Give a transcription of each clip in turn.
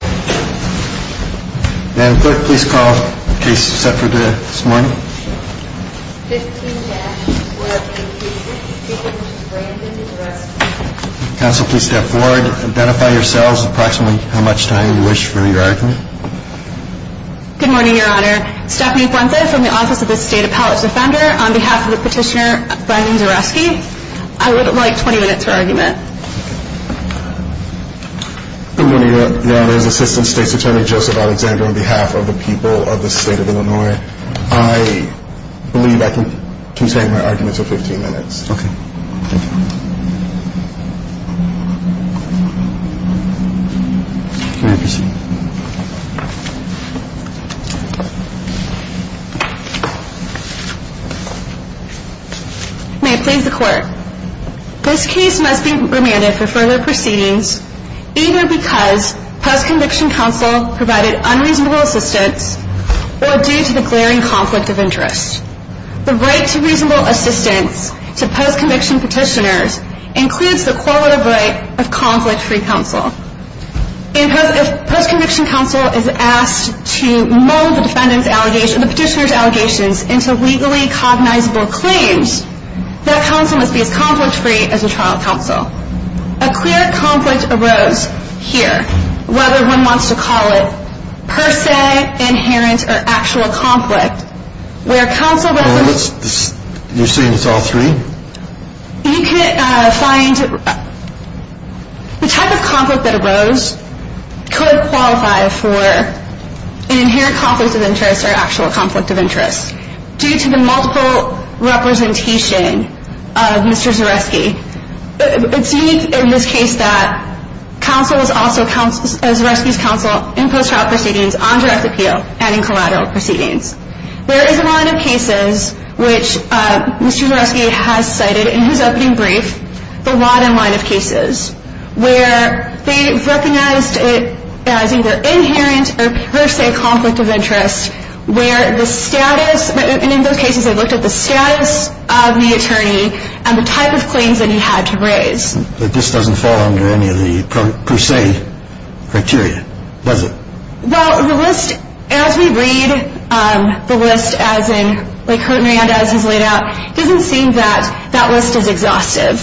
Good morning, your honor. Stephanie Fuentes from the Office of the State Appellate Defender on behalf of the petitioner Brandon Zareski. I would like 20 minutes for argument. Good morning, your honor. Assistant State's Attorney Joseph Alexander on behalf of the people of the state of Illinois. I believe I can take my argument for 15 minutes. Okay. Thank you. May it please the court. This case must be remanded for further proceedings either because post-conviction counsel provided unreasonable assistance or due to the glaring conflict of interest. The right to reasonable assistance to post-conviction petitioners includes the correlative right of conflict-free counsel. If post-conviction counsel is asked to mold the petitioner's allegations into legally cognizable claims, that counsel must be as conflict-free as the trial counsel. A clear conflict arose here, whether one wants to call it per se, inherent, or actual conflict, where counsel... You're saying it's all three? You can find... The type of conflict that arose could qualify for an inherent conflict of interest or actual conflict of interest due to the multiple representation of Mr. Zareski. It's unique in this case that counsel is also Zareski's counsel in post-trial proceedings, on direct appeal, and in collateral proceedings. There is a line of cases which Mr. Zareski has cited in his opening brief, the Lodin line of cases, where they recognized it as either inherent or per se conflict of interest, where the status... And in those cases, they looked at the status of the attorney and the type of claims that he had to raise. But this doesn't fall under any of the per se criteria, does it? Well, the list, as we read the list, as in, like Horton Rand, as he's laid out, doesn't seem that that list is exhaustive.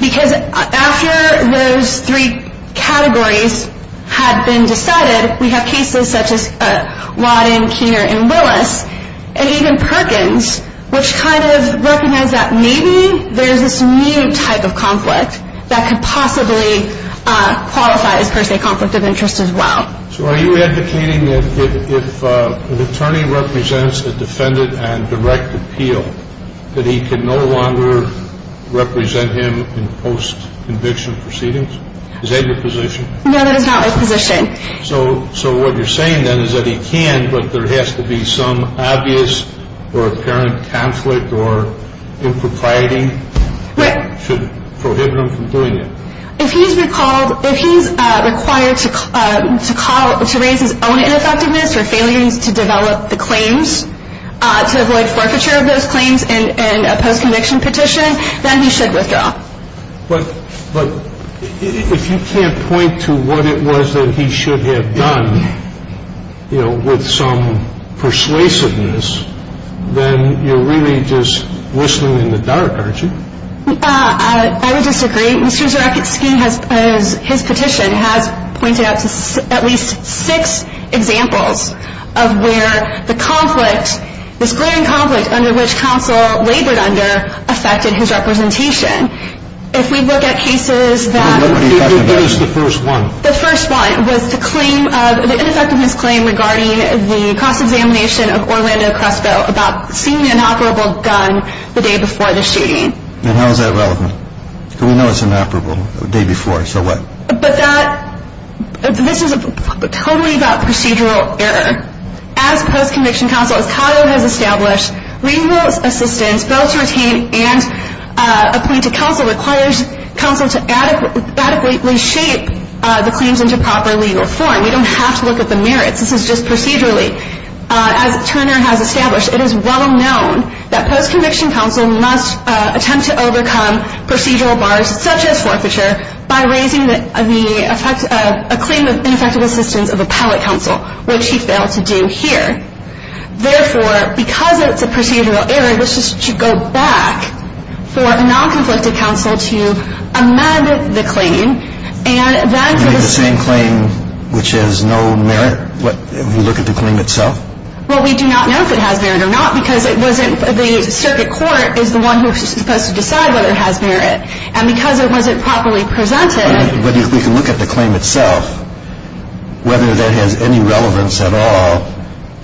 Because after those three categories had been decided, we have cases such as Lodin, Keener, and Willis, and even Perkins, which kind of recognize that maybe there's this new type of conflict that could possibly qualify as per se conflict of interest as well. So are you advocating that if an attorney represents a defendant on direct appeal, that he can no longer represent him in post-conviction proceedings? Is that your position? No, that is not my position. So what you're saying then is that he can, but there has to be some obvious or apparent conflict or impropriety that should prohibit him from doing it? If he's required to raise his own ineffectiveness or failures to develop the claims, to avoid forfeiture of those claims in a post-conviction petition, then he should withdraw. But if you can't point to what it was that he should have done, you know, with some persuasiveness, then you're really just whistling in the dark, aren't you? I would disagree. Mr. Zyrowski, as his petition has pointed out, has at least six examples of where the conflict, this glaring conflict under which counsel labored under, affected his representation. If we look at cases that… What is the first one? The first one was the claim, the ineffectiveness claim regarding the cross-examination of Orlando Crespo about seeing an inoperable gun the day before the shooting. And how is that relevant? Because we know it's inoperable the day before, so what? But that, this is totally about procedural error. As post-conviction counsel, as CADO has established, legal assistance built to retain and appoint a counsel requires counsel to adequately shape the claims into proper legal form. We don't have to look at the merits. This is just procedurally. As Turner has established, it is well known that post-conviction counsel must attempt to overcome procedural bars, such as forfeiture, by raising a claim of ineffective assistance of appellate counsel, which he failed to do here. Therefore, because it's a procedural error, this should go back for a non-conflicted counsel to amend the claim. You mean the same claim which has no merit, if we look at the claim itself? Well, we do not know if it has merit or not, because the circuit court is the one who is supposed to decide whether it has merit. And because it wasn't properly presented… But we can look at the claim itself, whether that has any relevance at all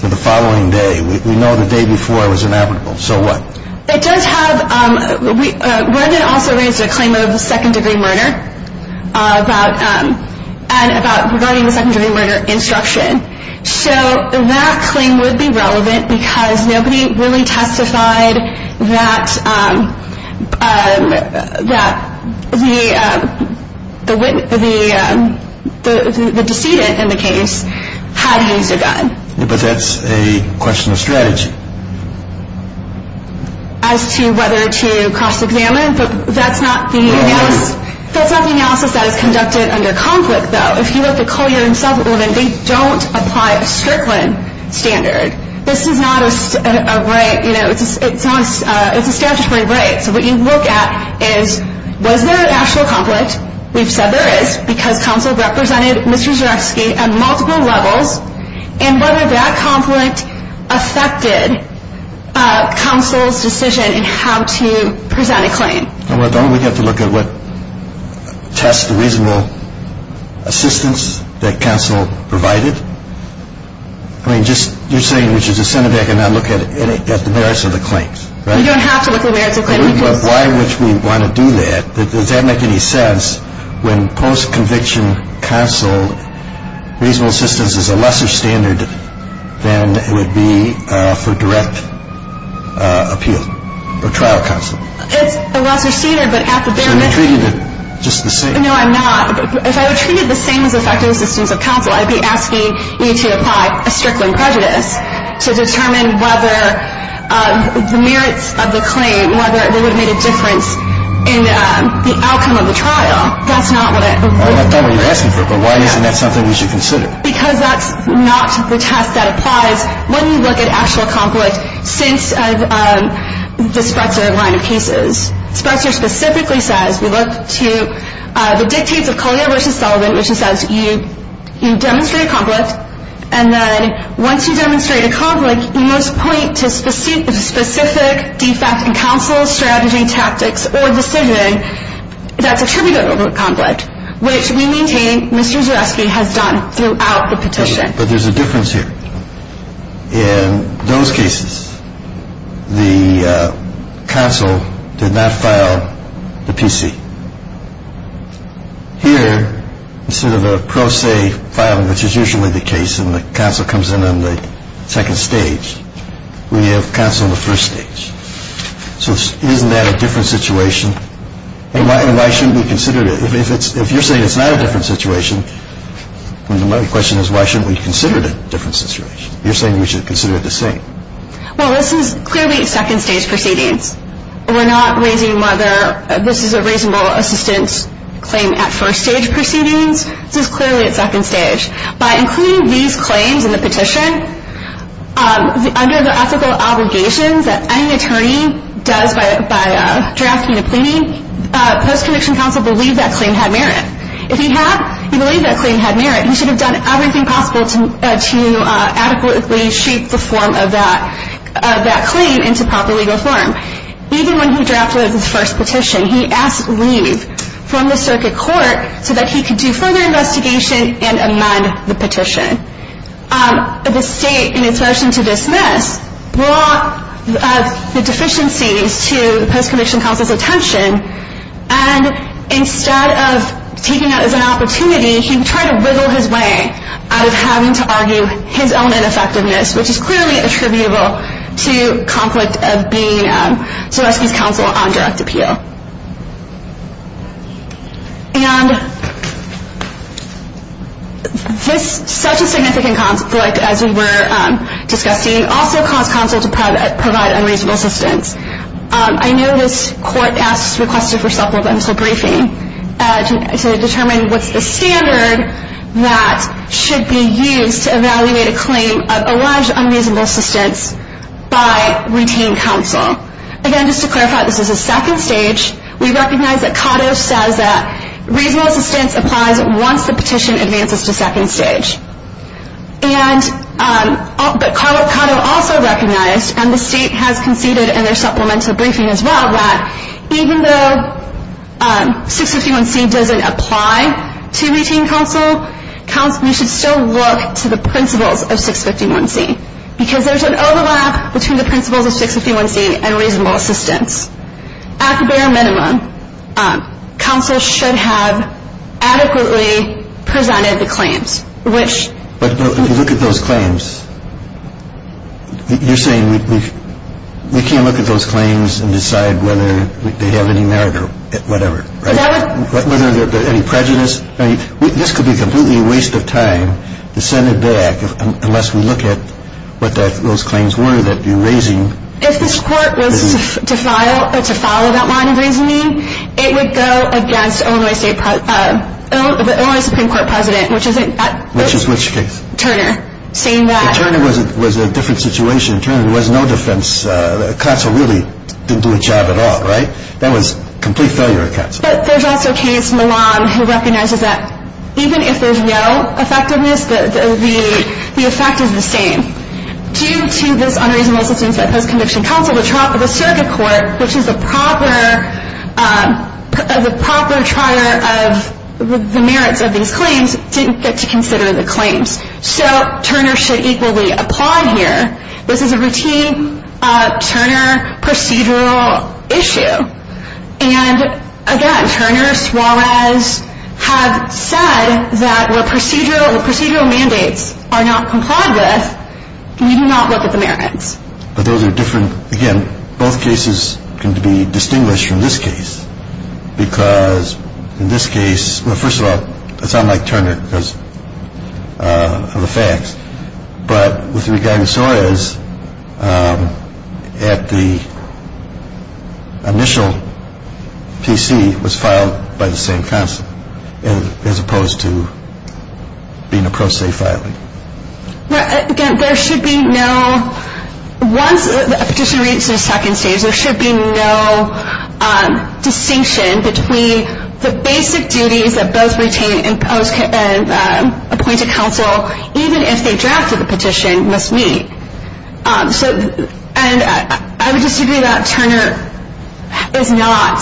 to the following day. We know the day before was inoperable, so what? It does have…Rendon also raised a claim of second-degree murder, regarding the second-degree murder instruction. So that claim would be relevant because nobody really testified that the decedent in the case had used a gun. But that's a question of strategy. As to whether to cross-examine, that's not the analysis that is conducted under conflict, though. If you look at Collier and Sullivan, they don't apply a Strickland standard. This is not a right, you know, it's a statutory right. So what you look at is, was there an actual conflict? We've said there is, because counsel represented Mr. Zyrowski on multiple levels. And whether that conflict affected counsel's decision in how to present a claim. Don't we get to look at what tests the reasonable assistance that counsel provided? I mean, you're saying we should just send it back and not look at the merits of the claims, right? You don't have to look at the merits of the claims. Why would we want to do that? Does that make any sense? When post-conviction counsel, reasonable assistance is a lesser standard than it would be for direct appeal or trial counsel. It's a lesser standard, but at the bare minimum. So you're treating it just the same. No, I'm not. If I were treated the same as effective assistance of counsel, I'd be asking you to apply a Strickland prejudice to determine whether the merits of the claim, whether it would have made a difference in the outcome of the trial. That's not what I'm asking for. But why isn't that something we should consider? Because that's not the test that applies when you look at actual conflict since the Sprecher line of cases. Sprecher specifically says, we look to the dictates of Collier v. Sullivan, which says you demonstrate a conflict. And then once you demonstrate a conflict, you must point to specific defect in counsel, strategy, tactics, or decision that's attributable to the conflict, which we maintain Mr. Zuroski has done throughout the petition. But there's a difference here. In those cases, the counsel did not file the PC. Here, instead of a pro se filing, which is usually the case, and the counsel comes in on the second stage, we have counsel on the first stage. So isn't that a different situation? And why shouldn't we consider it? If you're saying it's not a different situation, then my question is, why shouldn't we consider it a different situation? You're saying we should consider it the same. Well, this is clearly a second stage proceedings. We're not raising whether this is a reasonable assistance claim at first stage proceedings. This is clearly at second stage. By including these claims in the petition, under the ethical obligations that any attorney does by drafting a plea, post-conviction counsel believed that claim had merit. If he had, he believed that claim had merit. He should have done everything possible to adequately shape the form of that claim into proper legal form. Even when he drafted his first petition, he asked leave from the circuit court so that he could do further investigation and amend the petition. The state, in its motion to dismiss, brought the deficiencies to the post-conviction counsel's attention. And instead of taking that as an opportunity, he tried to wiggle his way out of having to argue his own ineffectiveness, which is clearly attributable to conflict of being Soresky's counsel on direct appeal. Such a significant conflict, as we were discussing, also caused counsel to provide unreasonable assistance. I know this court asked, requested for self-evidential briefing to determine what's the standard that should be used to evaluate a claim of alleged unreasonable assistance by routine counsel. Again, just to clarify, this is a second stage. We recognize that Cotto says that reasonable assistance applies once the petition advances to second stage. But Cotto also recognized, and the state has conceded in their supplemental briefing as well, that even though 651C doesn't apply to routine counsel, we should still look to the principles of 651C because there's an overlap between the principles of 651C and reasonable assistance. At the bare minimum, counsel should have adequately presented the claims, which... But if you look at those claims, you're saying we can't look at those claims and decide whether they have any merit or whatever, right? Whether there's any prejudice. I mean, this could be completely a waste of time to send it back unless we look at what those claims were that you're raising. If this court was to follow that line of reasoning, it would go against the Illinois Supreme Court president, which is... Which is which case? Turner, saying that... Turner was a different situation. Turner was no defense. Counsel really didn't do a job at all, right? That was complete failure of counsel. But there's also a case, Milan, who recognizes that even if there's no effectiveness, the effect is the same. Due to this unreasonable assistance at post-conviction counsel, the trial for the circuit court, which is the proper trier of the merits of these claims, didn't get to consider the claims. So Turner should equally apply here. This is a routine Turner procedural issue. And, again, Turner, Suarez have said that where procedural mandates are not complied with, we do not look at the merits. But those are different... Again, both cases can be distinguished from this case because in this case... Well, first of all, I sound like Turner because of the facts. But with regard to Suarez, at the initial PC, it was filed by the same counsel, as opposed to being a pro se filing. Again, there should be no... Once a petitioner reaches the second stage, there should be no distinction between the basic duties that both retained and appointed counsel, even if they drafted the petition, must meet. And I would disagree that Turner is not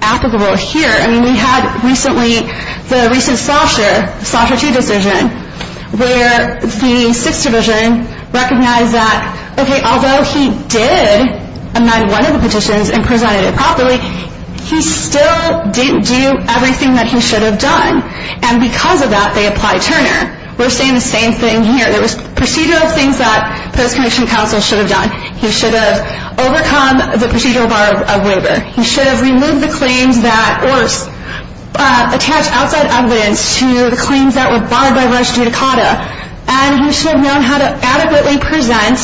applicable here. I mean, we had recently the recent Schlosser, Schlosser 2 decision, where the 6th Division recognized that, okay, although he did amend one of the petitions and presented it properly, he still didn't do everything that he should have done. And because of that, they applied Turner. We're saying the same thing here. There was procedural things that post-conviction counsel should have done. He should have overcome the procedural bar of waiver. He should have removed the claims that... or attached outside evidence to the claims that were barred by res judicata. And he should have known how to adequately present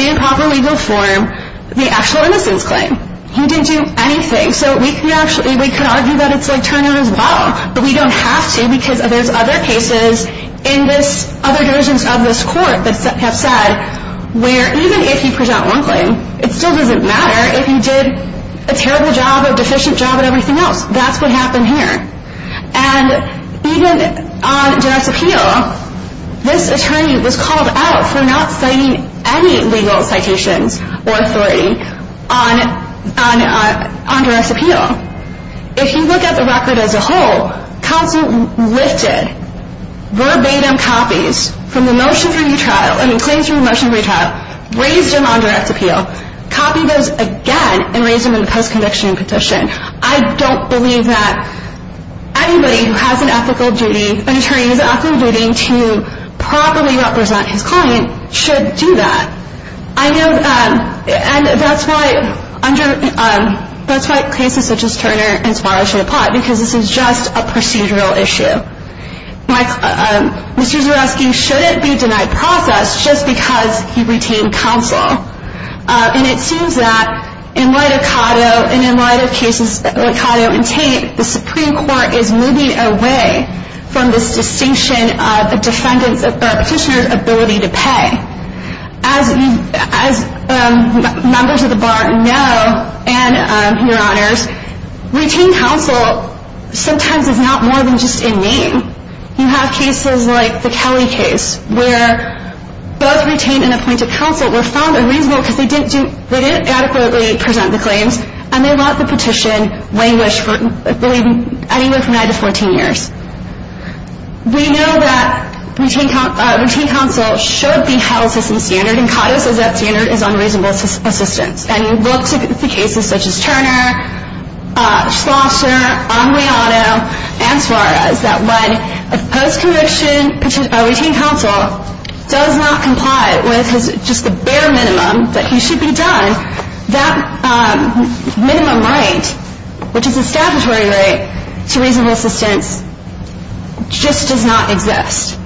in proper legal form the actual innocence claim. He didn't do anything. So we could argue that it's like Turner as well, but we don't have to because there's other cases in this other divisions of this court that have said where even if you present one claim, it still doesn't matter if you did a terrible job or deficient job at everything else. That's what happened here. And even on duress appeal, this attorney was called out for not citing any legal citations or authority on duress appeal. If you look at the record as a whole, counsel lifted verbatim copies from the motion for retrial, I mean, claims from the motion for retrial, raised them on duress appeal, copied those again, and raised them in the post-conviction petition. I don't believe that anybody who has an ethical duty, an attorney who has an ethical duty to properly represent his client should do that. And that's why cases such as Turner and Sparrow should apply, because this is just a procedural issue. Mr. Zuroski shouldn't be denied process just because he retained counsel. And it seems that in light of Cotto and in light of cases like Cotto and Tate, the Supreme Court is moving away from this distinction of a defendant's or a petitioner's ability to pay. As members of the Bar know, and Your Honors, retained counsel sometimes is not more than just a name. You have cases like the Kelly case, where both retained and appointed counsel were found unreasonable because they didn't adequately present the claims, and they let the petition languish for anywhere from 9 to 14 years. We know that retained counsel should be held to some standard, and Cotto says that standard is unreasonable assistance. And you look at the cases such as Turner, Schlosser, Aguiano, and Suarez, that when a post-conviction retained counsel does not comply with just the bare minimum that he should be done, that minimum right, which is a statutory right to reasonable assistance, just does not exist.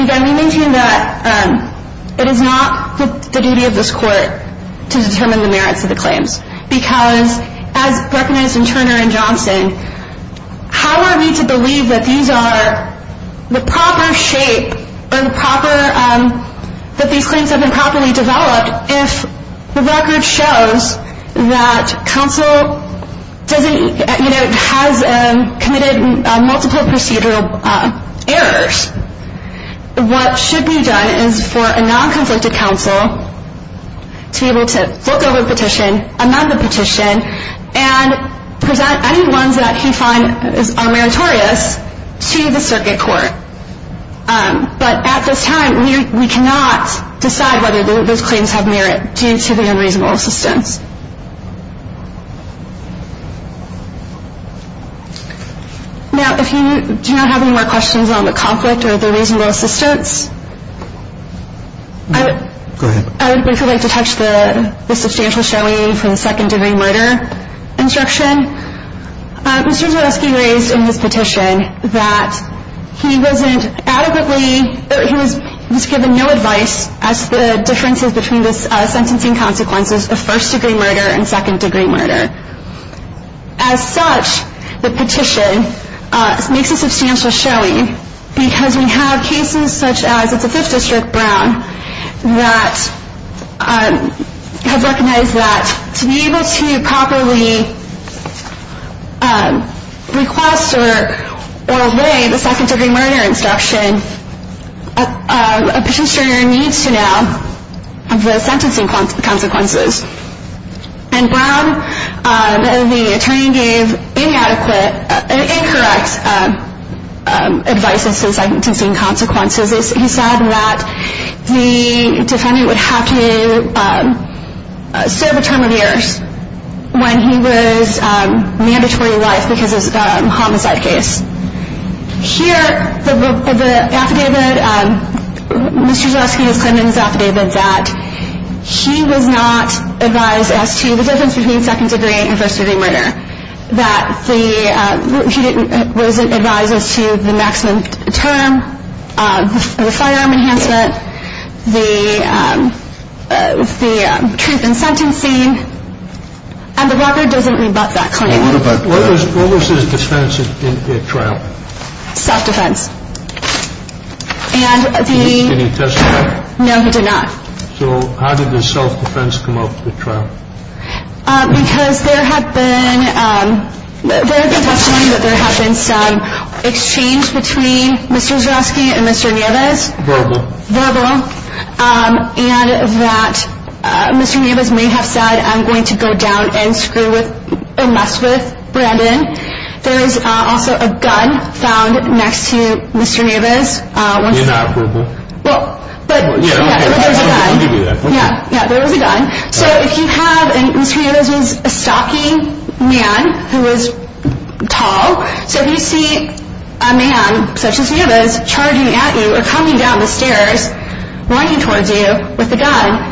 Again, we maintain that it is not the duty of this Court to determine the merits of the claims, because as recognized in Turner and Johnson, how are we to believe that these claims have been properly developed if the record shows that counsel has committed multiple procedural errors? What should be done is for a non-conflicted counsel to be able to look over the petition, amend the petition, and present any ones that he finds meritorious to the Circuit Court. But at this time, we cannot decide whether those claims have merit due to the unreasonable assistance. Now, if you do not have any more questions on the conflict or the reasonable assistance, I would basically like to touch the substantial showing for the second degree murder instruction. Mr. Zaleski raised in his petition that he wasn't adequately or he was given no advice as to the differences between the sentencing consequences of first degree murder and second degree murder. As such, the petition makes a substantial showing because we have cases such as the 5th District Brown that has recognized that to be able to properly request or obey the second degree murder instruction, a petitioner needs to know the sentencing consequences. In Brown, the attorney gave inadequate, incorrect advice as to the sentencing consequences. He said that the defendant would have to serve a term of years when he was mandatory alive because of a homicide case. Here, the affidavit, Mr. Zaleski is claiming in his affidavit that he was not advised as to the difference between second degree and first degree murder, that he wasn't advised as to the maximum term, the firearm enhancement, the truth in sentencing, and the record doesn't rebut that claim. What was his defense in the trial? Self-defense. Did he testify? No, he did not. So how did his self-defense come up in the trial? Because there had been some exchange between Mr. Zaleski and Mr. Nieves. Verbal. Verbal. And that Mr. Nieves may have said, I'm going to go down and mess with Brandon. There is also a gun found next to Mr. Nieves. They're not verbal. But there was a gun. Yeah, there was a gun. So if you have, and Mr. Nieves was a stocky man who was tall, so if you see a man such as Nieves charging at you or coming down the stairs, running towards you with a gun,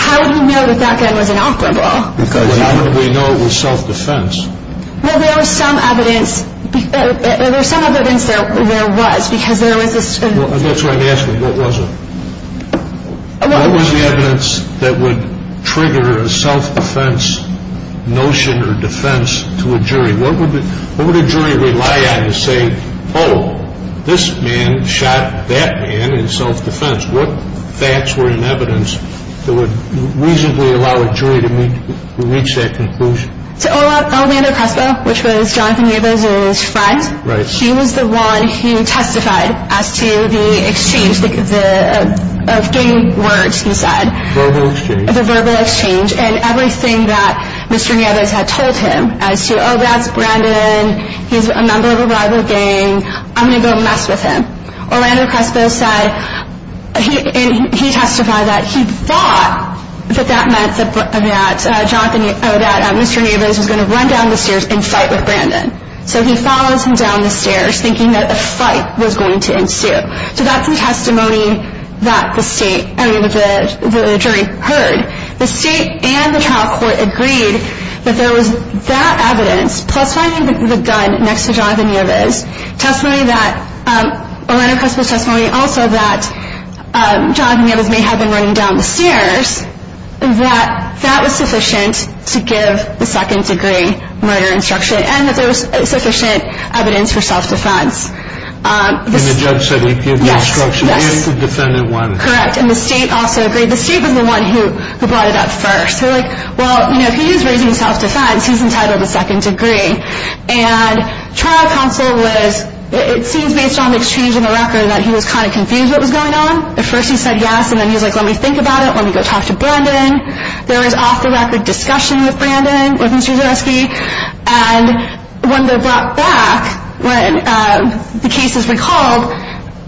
how would you know that that gun was inoperable? How would we know it was self-defense? Well, there was some evidence, there was some evidence that there was, because there was this. That's what I'm asking, what was it? What was the evidence that would trigger a self-defense notion or defense to a jury? What would a jury rely on to say, oh, this man shot that man in self-defense? What facts were in evidence that would reasonably allow a jury to reach that conclusion? To Orlando Crespo, which was Jonathan Nieves' friend. Right. He was the one who testified as to the exchange of gang words he said. Verbal exchange. The verbal exchange and everything that Mr. Nieves had told him as to, oh, that's Brandon, he's a member of a rival gang, I'm going to go mess with him. Orlando Crespo said, and he testified that he thought that that meant that Mr. Nieves was going to run down the stairs and fight with Brandon. So he follows him down the stairs thinking that a fight was going to ensue. So that's the testimony that the jury heard. The state and the trial court agreed that there was that evidence, plus finding the gun next to Jonathan Nieves, testimony that, Orlando Crespo's testimony also that Jonathan Nieves may have been running down the stairs, that that was sufficient to give the second degree murder instruction and that there was sufficient evidence for self-defense. And the judge said he'd give the instruction if the defendant wanted it. Correct. And the state also agreed. The state was the one who brought it up first. They were like, well, if he is raising self-defense, he's entitled to second degree. And trial counsel was, it seems based on the exchange and the record, that he was kind of confused what was going on. At first he said yes, and then he was like, let me think about it, let me go talk to Brandon. There was off-the-record discussion with Brandon, with Mr. Zaresky. And when they're brought back, when the case is recalled,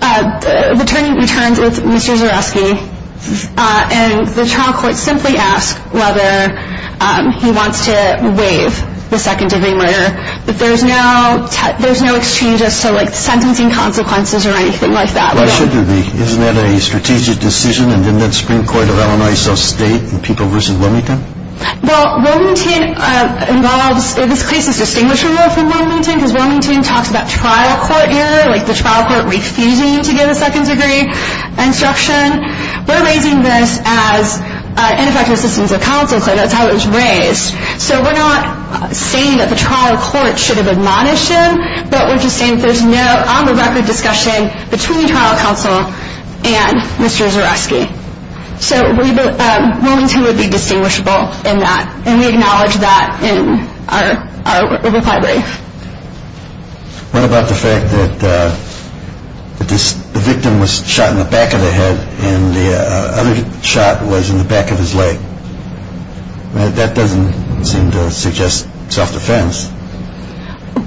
the attorney returns with Mr. Zaresky, and the trial court simply asks whether he wants to waive the second degree murder. But there's no exchange of sentencing consequences or anything like that. Well, shouldn't there be? Isn't that a strategic decision? And didn't that Supreme Court of Illinois self-state in People v. Wilmington? Well, Wilmington involves, this case is distinguishable from Wilmington because Wilmington talks about trial court error, like the trial court refusing to give a second degree instruction. We're raising this as ineffective assistance of counsel, so that's how it was raised. So we're not saying that the trial court should have admonished him, but we're just saying there's no on-the-record discussion between trial counsel and Mr. Zaresky. So Wilmington would be distinguishable in that, and we acknowledge that in our reply brief. What about the fact that the victim was shot in the back of the head and the other shot was in the back of his leg? That doesn't seem to suggest self-defense.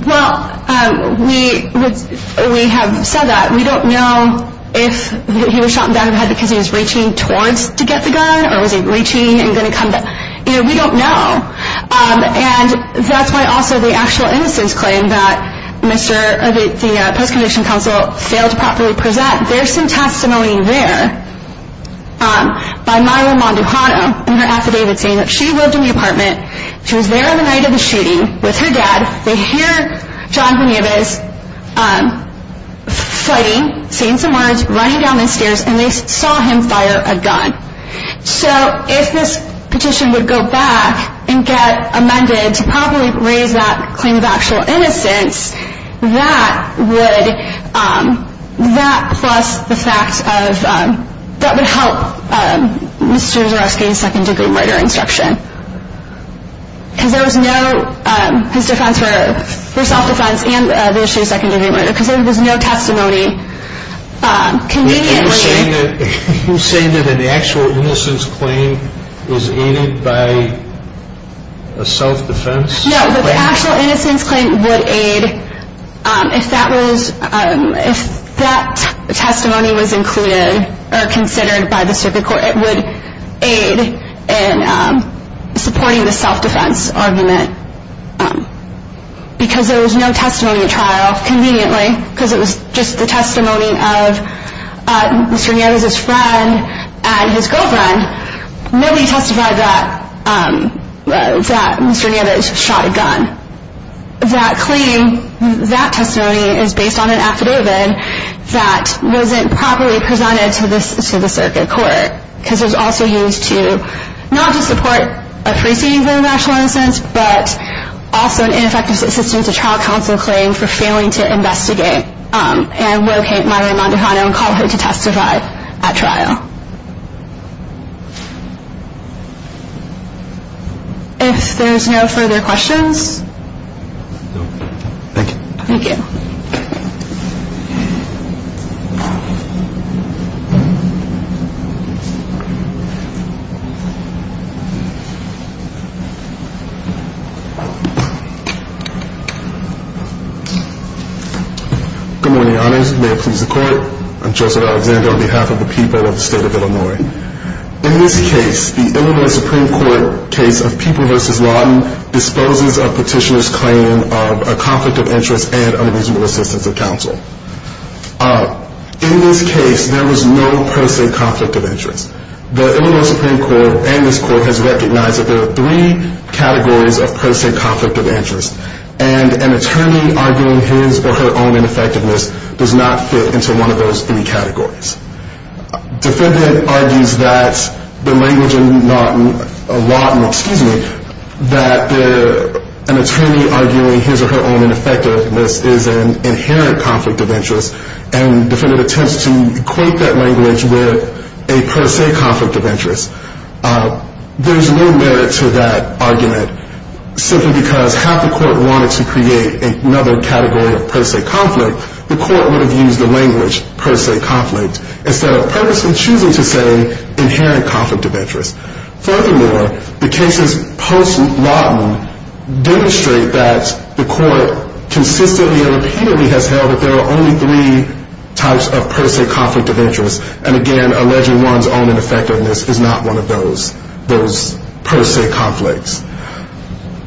Well, we have said that. We don't know if he was shot in the back of the head because he was reaching towards to get the gun or was he reaching and going to come back. You know, we don't know. And that's why also the actual innocence claim that the post-conviction counsel failed to properly present, there's some testimony there by Myra Monducano in her affidavit saying that she lived in the apartment. She was there on the night of the shooting with her dad. They hear John Benavis fighting, saying some words, running down the stairs, and they saw him fire a gun. So if this petition would go back and get amended to properly raise that claim of actual innocence, that would help Mr. Zaresky's second-degree murder instruction because there was no testimony. Are you saying that an actual innocence claim is aided by a self-defense claim? No, but the actual innocence claim would aid if that testimony was included or considered by the circuit court. It would aid in supporting the self-defense argument because there was no testimony at trial, conveniently, because it was just the testimony of Mr. Nieves' friend and his girlfriend. Nobody testified that Mr. Nieves shot a gun. That claim, that testimony, is based on an affidavit that wasn't properly presented to the circuit court because it was also used to not just support a preceding claim of actual innocence, but also an ineffective assistance to trial counsel claim for failing to investigate and locate Myra Monducano and call her to testify at trial. If there's no further questions. Thank you. Thank you. Good morning, Your Honors. May it please the Court, I'm Joseph Alexander on behalf of the people of the state of California. In this case, the Illinois Supreme Court case of People v. Lawton disposes of Petitioner's claim of a conflict of interest and unreasonable assistance of counsel. In this case, there was no per se conflict of interest. The Illinois Supreme Court and this Court has recognized that there are three categories of per se conflict of interest and an attorney arguing his or her own ineffectiveness does not fit into one of those three categories. Defendant argues that the language in Lawton, excuse me, that an attorney arguing his or her own ineffectiveness is an inherent conflict of interest and defendant attempts to equate that language with a per se conflict of interest. There's no merit to that argument simply because half the Court wanted to create another category of per se conflict. Furthermore, the Court would have used the language per se conflict instead of purposely choosing to say inherent conflict of interest. Furthermore, the cases post-Lawton demonstrate that the Court consistently and repeatedly has held that there are only three types of per se conflict of interest and again, alleging one's own ineffectiveness is not one of those per se conflicts.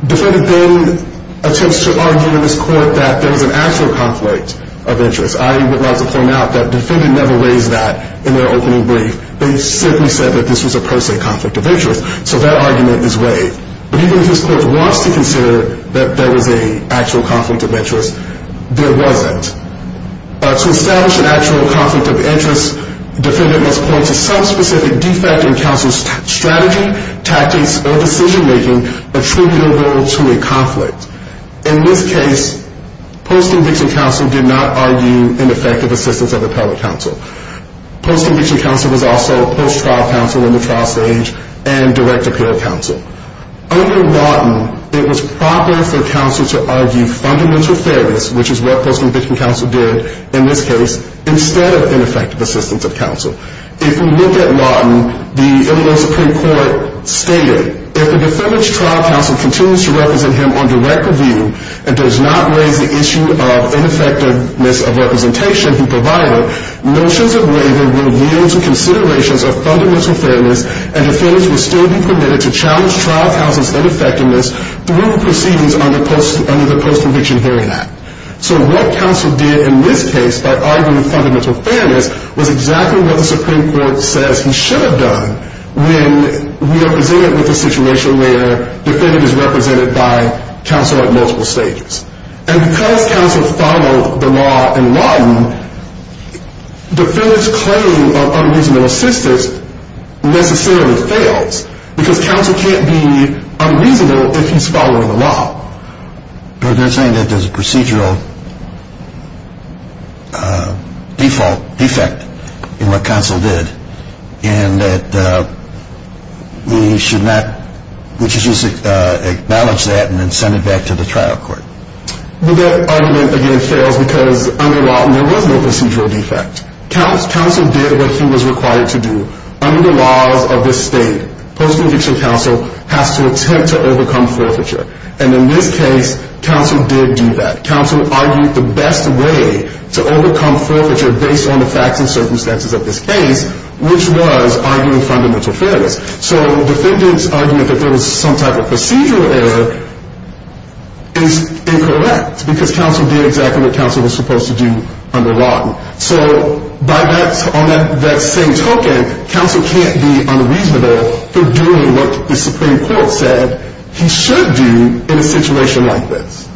Defendant then attempts to argue in this Court that there was an actual conflict of interest. I would like to point out that defendant never raised that in their opening brief. They simply said that this was a per se conflict of interest. So that argument is waived. But even if this Court wants to consider that there was an actual conflict of interest, there wasn't. To establish an actual conflict of interest, defendant must point to some specific defect in counsel's strategy, tactics, or decision-making attributable to a conflict. In this case, post-conviction counsel did not argue ineffective assistance of appellate counsel. Post-conviction counsel was also post-trial counsel in the trial stage and direct appeal counsel. Under Lawton, it was proper for counsel to argue fundamental fairness, which is what post-conviction counsel did in this case, instead of ineffective assistance of counsel. If we look at Lawton, the Illinois Supreme Court stated, if the defendant's trial counsel continues to represent him on direct review and does not raise the issue of ineffectiveness of representation he provided, notions of waiver will yield to considerations of fundamental fairness, and defendants will still be permitted to challenge trial counsel's ineffectiveness through proceedings under the Post-Conviction Hearing Act. So what counsel did in this case by arguing fundamental fairness was exactly what the Supreme Court says he should have done when we are presented with a situation where defendant is represented by counsel at multiple stages. And because counsel followed the law in Lawton, defendant's claim of unreasonable assistance necessarily fails, because counsel can't be unreasonable if he's following the law. But they're saying that there's a procedural default, defect in what counsel did, and that we should not, we should just acknowledge that and then send it back to the trial court. Well, that argument again fails because under Lawton there was no procedural defect. Counsel did what he was required to do. Under the laws of this state, post-conviction counsel has to attempt to overcome forfeiture. And in this case, counsel did do that. Counsel argued the best way to overcome forfeiture based on the facts and circumstances of this case, which was arguing fundamental fairness. So defendant's argument that there was some type of procedural error is incorrect, because counsel did exactly what counsel was supposed to do under Lawton. So by that, on that same token, counsel can't be unreasonable for doing what the Supreme Court said he should do in a situation like this.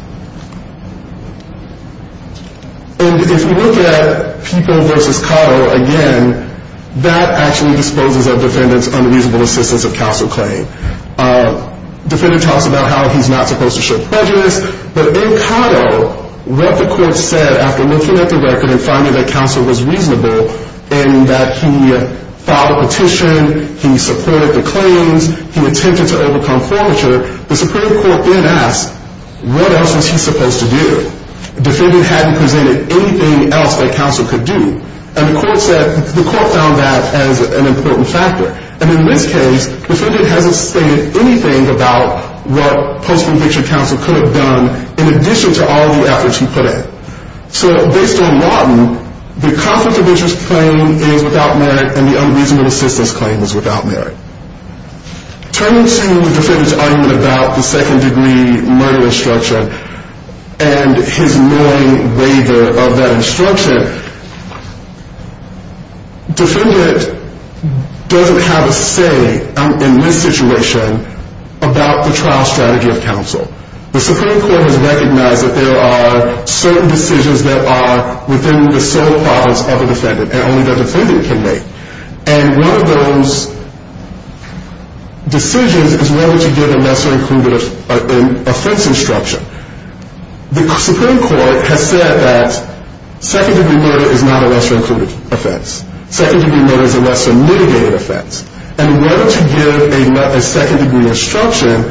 And if we look at People v. Cotto again, that actually disposes of defendant's unreasonable assistance of counsel claim. Defendant talks about how he's not supposed to show prejudice. But in Cotto, what the court said after looking at the record and finding that counsel was reasonable in that he filed a petition, he supported the claims, he attempted to overcome forfeiture, the Supreme Court then asked, what else was he supposed to do? Defendant hadn't presented anything else that counsel could do. And the court found that as an important factor. And in this case, defendant hasn't stated anything about what post-conviction counsel could have done in addition to all the efforts he put in. So based on Lawton, the conflict of interest claim is without merit, and the unreasonable assistance claim is without merit. Turning to defendant's argument about the second-degree murder instruction and his knowing waiver of that instruction, defendant doesn't have a say in this situation about the trial strategy of counsel. The Supreme Court has recognized that there are certain decisions that are within the sole powers of the defendant and only the defendant can make. And one of those decisions is whether to give a lesser-included offense instruction. The Supreme Court has said that second-degree murder is not a lesser-included offense. Second-degree murder is a lesser-mitigated offense. And whether to give a second-degree instruction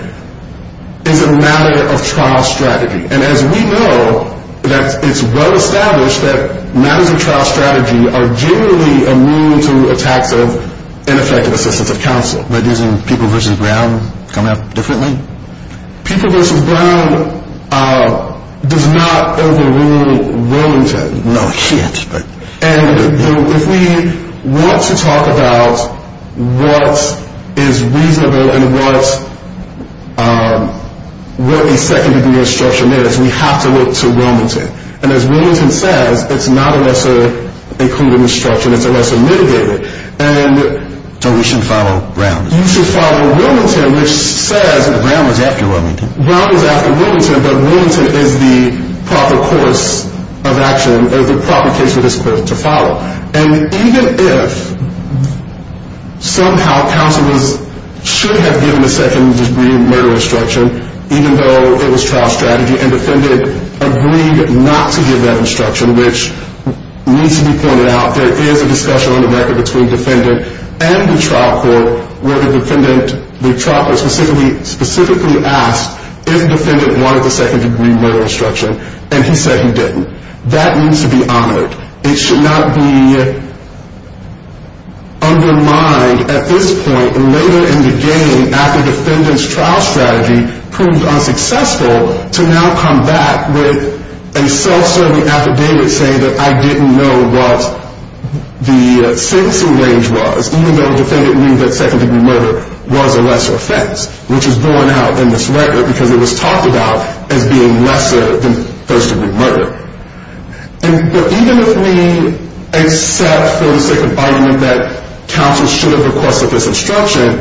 is a matter of trial strategy. And as we know, it's well-established that matters of trial strategy are generally immune to attacks of ineffective assistance of counsel. But isn't People v. Brown coming up differently? People v. Brown does not overrule Wilmington. No shit. And if we want to talk about what is reasonable and what a second-degree instruction is, we have to look to Wilmington. And as Wilmington says, it's not a lesser-included instruction, it's a lesser-mitigated. So we should follow Brown? You should follow Wilmington, which says that Brown was after Wilmington. Brown was after Wilmington, but Wilmington is the proper course of action, or the proper case for this court to follow. And even if somehow counselors should have given a second-degree murder instruction, even though it was trial strategy and the defendant agreed not to give that instruction, which needs to be pointed out, there is a discussion on the record between the defendant and the trial court where the defendant specifically asked if the defendant wanted the second-degree murder instruction, and he said he didn't. That needs to be honored. It should not be undermined at this point, and later in the game after the defendant's trial strategy proved unsuccessful, to now come back with a self-serving affidavit saying that I didn't know what the sentencing range was, even though the defendant knew that second-degree murder was a lesser offense, which is going out in this record because it was talked about as being lesser than first-degree murder. But even if we accept for the sake of argument that counselors should have requested this instruction,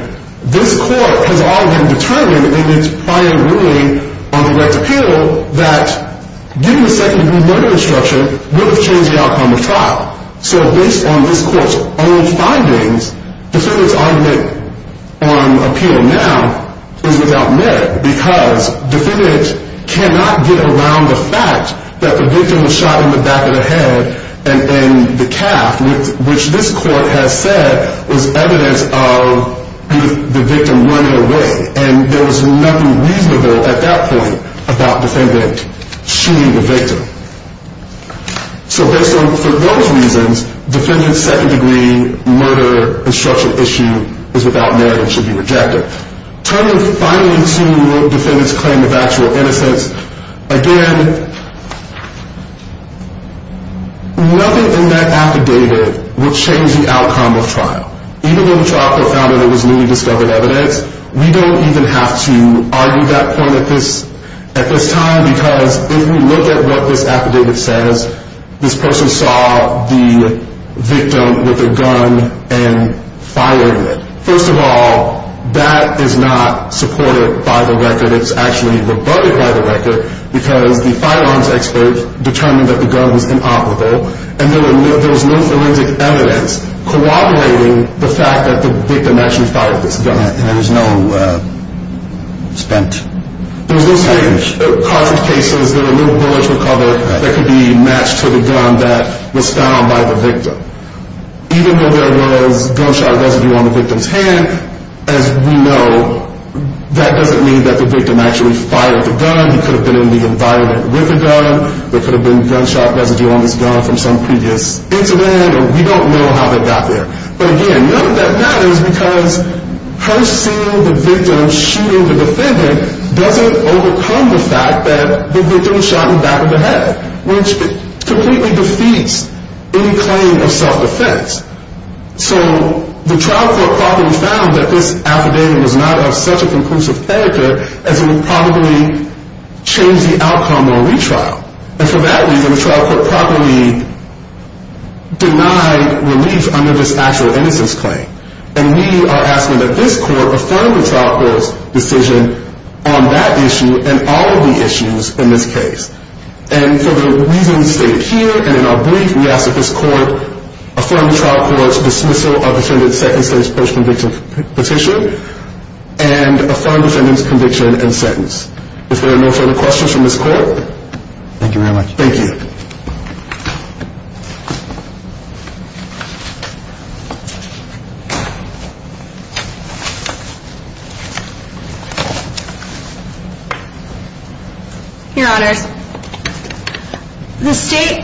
this court has already determined in its prior ruling on direct appeal that giving a second-degree murder instruction will change the outcome of trial. So based on this court's own findings, the defendant's argument on appeal now is without merit because the defendant cannot get around the fact that the victim was shot in the back of the head and in the calf, which this court has said was evidence of the victim running away, and there was nothing reasonable at that point about the defendant shooting the victim. So for those reasons, the defendant's second-degree murder instruction issue is without merit and should be rejected. Turning finally to the defendant's claim of actual innocence, again, nothing in that affidavit would change the outcome of trial. Even though the trial could have found that it was newly discovered evidence, we don't even have to argue that point at this time because if we look at what this affidavit says, this person saw the victim with a gun and fired it. First of all, that is not supported by the record. It's actually rebutted by the record because the firearms expert determined that the gun was inoperable and there was no forensic evidence corroborating the fact that the victim actually fired this gun and there was no spent cartridge. There was no spent cartridge cases. There were little bullets recovered that could be matched to the gun that was found by the victim. Even though there was gunshot residue on the victim's hand, as we know, that doesn't mean that the victim actually fired the gun. He could have been in the environment with the gun. There could have been gunshot residue on his gun from some previous incident, and we don't know how that got there. But again, none of that matters because her seeing the victim shooting the defendant doesn't overcome the fact that the victim shot him back in the head, which completely defeats any claim of self-defense. So the trial court probably found that this affidavit was not of such a conclusive character as it would probably change the outcome of a retrial. And for that reason, the trial court probably denied relief under this actual innocence claim. And we are asking that this court affirm the trial court's decision on that issue and all of the issues in this case. And for the reasons stated here and in our brief, we ask that this court affirm the trial court's dismissal of the defendant's second-stage post-conviction petition and affirm the defendant's conviction and sentence. If there are no further questions from this court. Thank you very much. Thank you. Your Honors, the State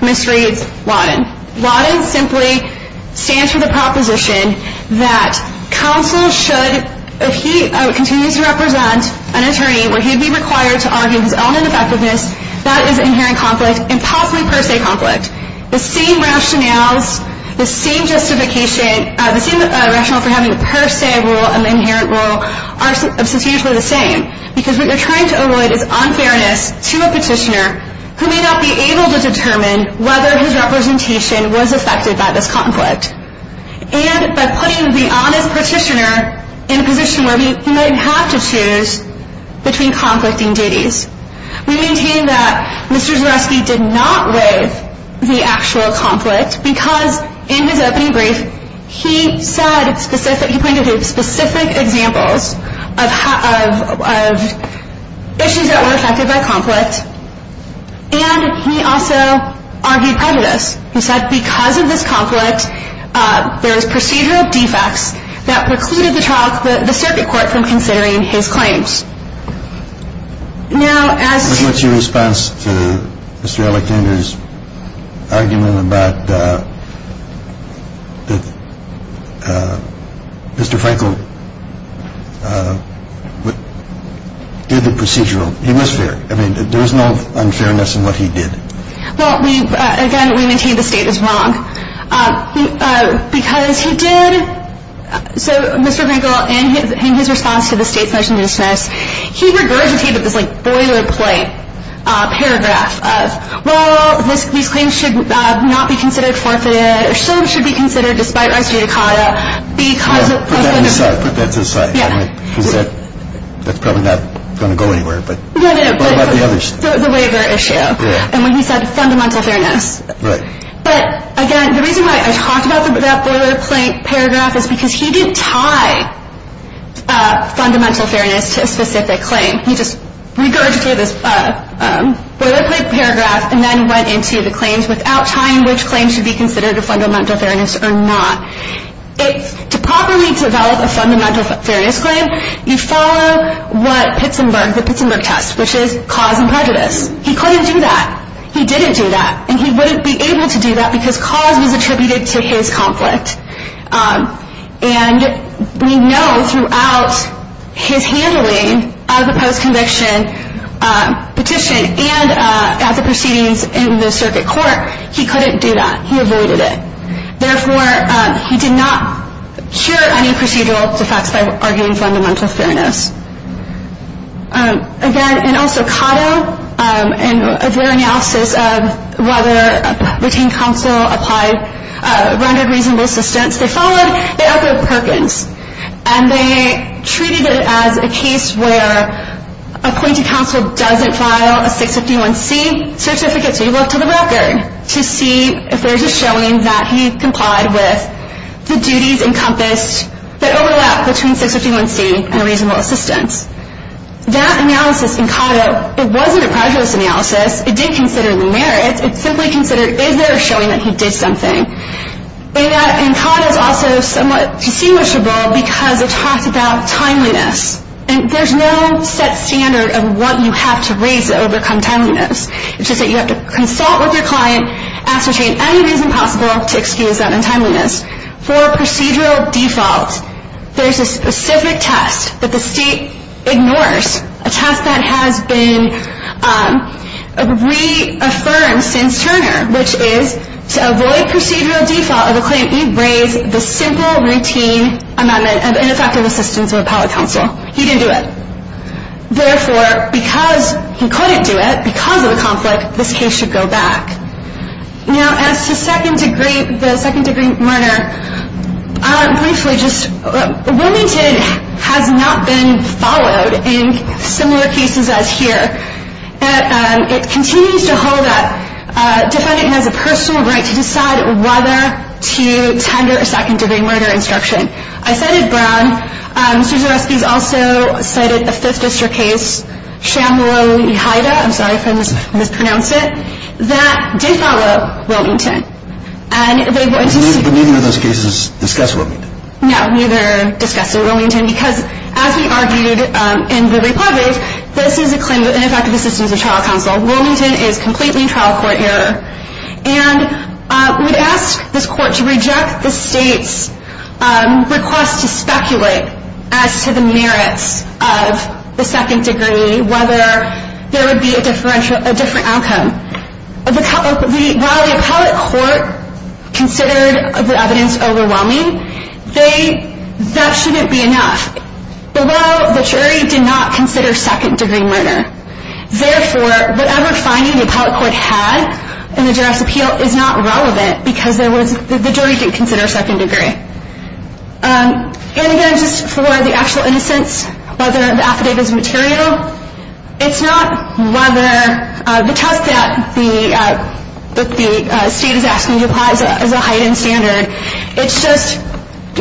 misreads Wadden. Wadden simply stands for the proposition that counsel should, if he continues to represent an attorney, where he'd be required to argue his own ineffectiveness, that is inherent conflict and possibly per se conflict. The same rationales, the same justification, the same rationale for having the per se rule and the inherent rule are substantially the same. Because what you're trying to avoid is unfairness to a petitioner who may not be able to determine whether his representation was affected by this conflict. And by putting the honest petitioner in a position where he might have to choose between conflicting duties. We maintain that Mr. Zareski did not waive the actual conflict because in his opening brief he pointed to specific examples of issues that were affected by conflict. And he also argued prejudice. He said because of this conflict there is procedural defects that precluded the circuit court from considering his claims. Now as to... What's your response to Mr. Alexander's argument about that Mr. Frankel did the procedural... He was fair. I mean there was no unfairness in what he did. Well we, again we maintain the state is wrong. Because he did... So Mr. Frankel in his response to the state's motion to dismiss he regurgitated this like boilerplate paragraph of well these claims should not be considered forfeited or should be considered despite res judicata because... Put that to the side. Put that to the side. Yeah. Because that's probably not going to go anywhere. But what about the other... The waiver issue. Yeah. And when he said fundamental fairness. Right. But again the reason why I talked about that boilerplate paragraph is because he didn't tie fundamental fairness to a specific claim. He just regurgitated this boilerplate paragraph and then went into the claims without tying which claims should be considered a fundamental fairness or not. To properly develop a fundamental fairness claim you follow what Pittsburgh, the Pittsburgh test, which is cause and prejudice. He couldn't do that. He didn't do that. And he wouldn't be able to do that because cause was attributed to his conflict. And we know throughout his handling of the post-conviction petition and at the proceedings in the circuit court he couldn't do that. He avoided it. Therefore, he did not cure any procedural defects by arguing fundamental fairness. Again, and also Cotto, in their analysis of whether retained counsel rendered reasonable assistance, they followed it up with Perkins. And they treated it as a case where appointed counsel doesn't file a 651C certificate so you look to the record to see if there's a showing that he complied with the duties encompassed, that overlap between 651C and reasonable assistance. That analysis in Cotto, it wasn't a prejudice analysis. It didn't consider the merits. It simply considered is there a showing that he did something. And that in Cotto is also somewhat distinguishable because it talks about timeliness. And there's no set standard of what you have to raise to overcome timeliness. It's just that you have to consult with your client, ascertain any reason possible to excuse that untimeliness. For procedural default, there's a specific test that the state ignores, a test that has been reaffirmed since Turner, which is to avoid procedural default of a claim, you raise the simple routine amendment of ineffective assistance of appellate counsel. He didn't do it. Therefore, because he couldn't do it because of the conflict, this case should go back. Now, as to the second-degree murder, briefly just Wilmington has not been followed in similar cases as here. It continues to hold up. Defendant has a personal right to decide whether to tender a second-degree murder instruction. I cited Brown. Sousa-Ruskey has also cited a Fifth District case, Shambler-Lehida, I'm sorry if I mispronounced it, that did follow Wilmington. But neither of those cases discuss Wilmington. No, neither discuss Wilmington because, as we argued in the report, this is a claim of ineffective assistance of trial counsel. Wilmington is completely trial court error. And we'd ask this court to reject the state's request to speculate as to the merits of the second-degree, whether there would be a different outcome. While the appellate court considered the evidence overwhelming, that shouldn't be enough. Below, the jury did not consider second-degree murder. Therefore, whatever finding the appellate court had in the juror's appeal is not relevant because the jury didn't consider second-degree. And again, just for the actual innocence, whether the affidavit is material, it's not whether the test that the state is asking to apply is a heightened standard. It's just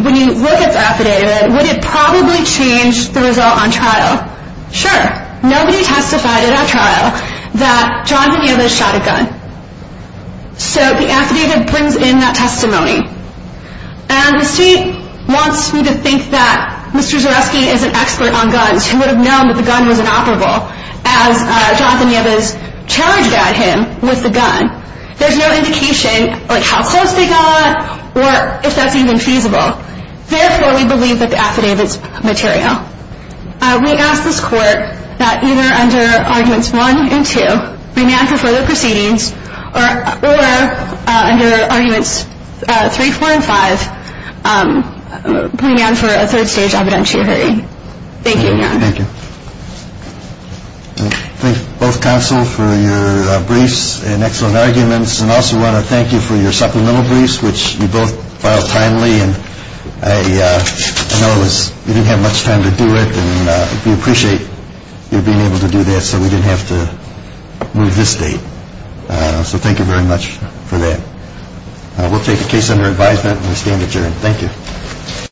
when you look at the affidavit, would it probably change the result on trial? Sure. Nobody testified at our trial that Jonathan Nieves shot a gun. So the affidavit brings in that testimony. And the state wants me to think that Mr. Zareski is an expert on guns, who would have known that the gun was inoperable as Jonathan Nieves challenged at him with the gun. There's no indication, like, how close they got or if that's even feasible. Therefore, we believe that the affidavit's material. We ask this court that either under Arguments 1 and 2, bring me on for further proceedings, or under Arguments 3, 4, and 5, bring me on for a third-stage evidentiary hearing. Thank you, Your Honor. Thank you. Thank you, both counsel, for your briefs and excellent arguments. And I also want to thank you for your supplemental briefs, which you both filed timely. And I know you didn't have much time to do it, and we appreciate you being able to do that so we didn't have to move this date. So thank you very much for that. We'll take the case under advisement and stand adjourned. Thank you.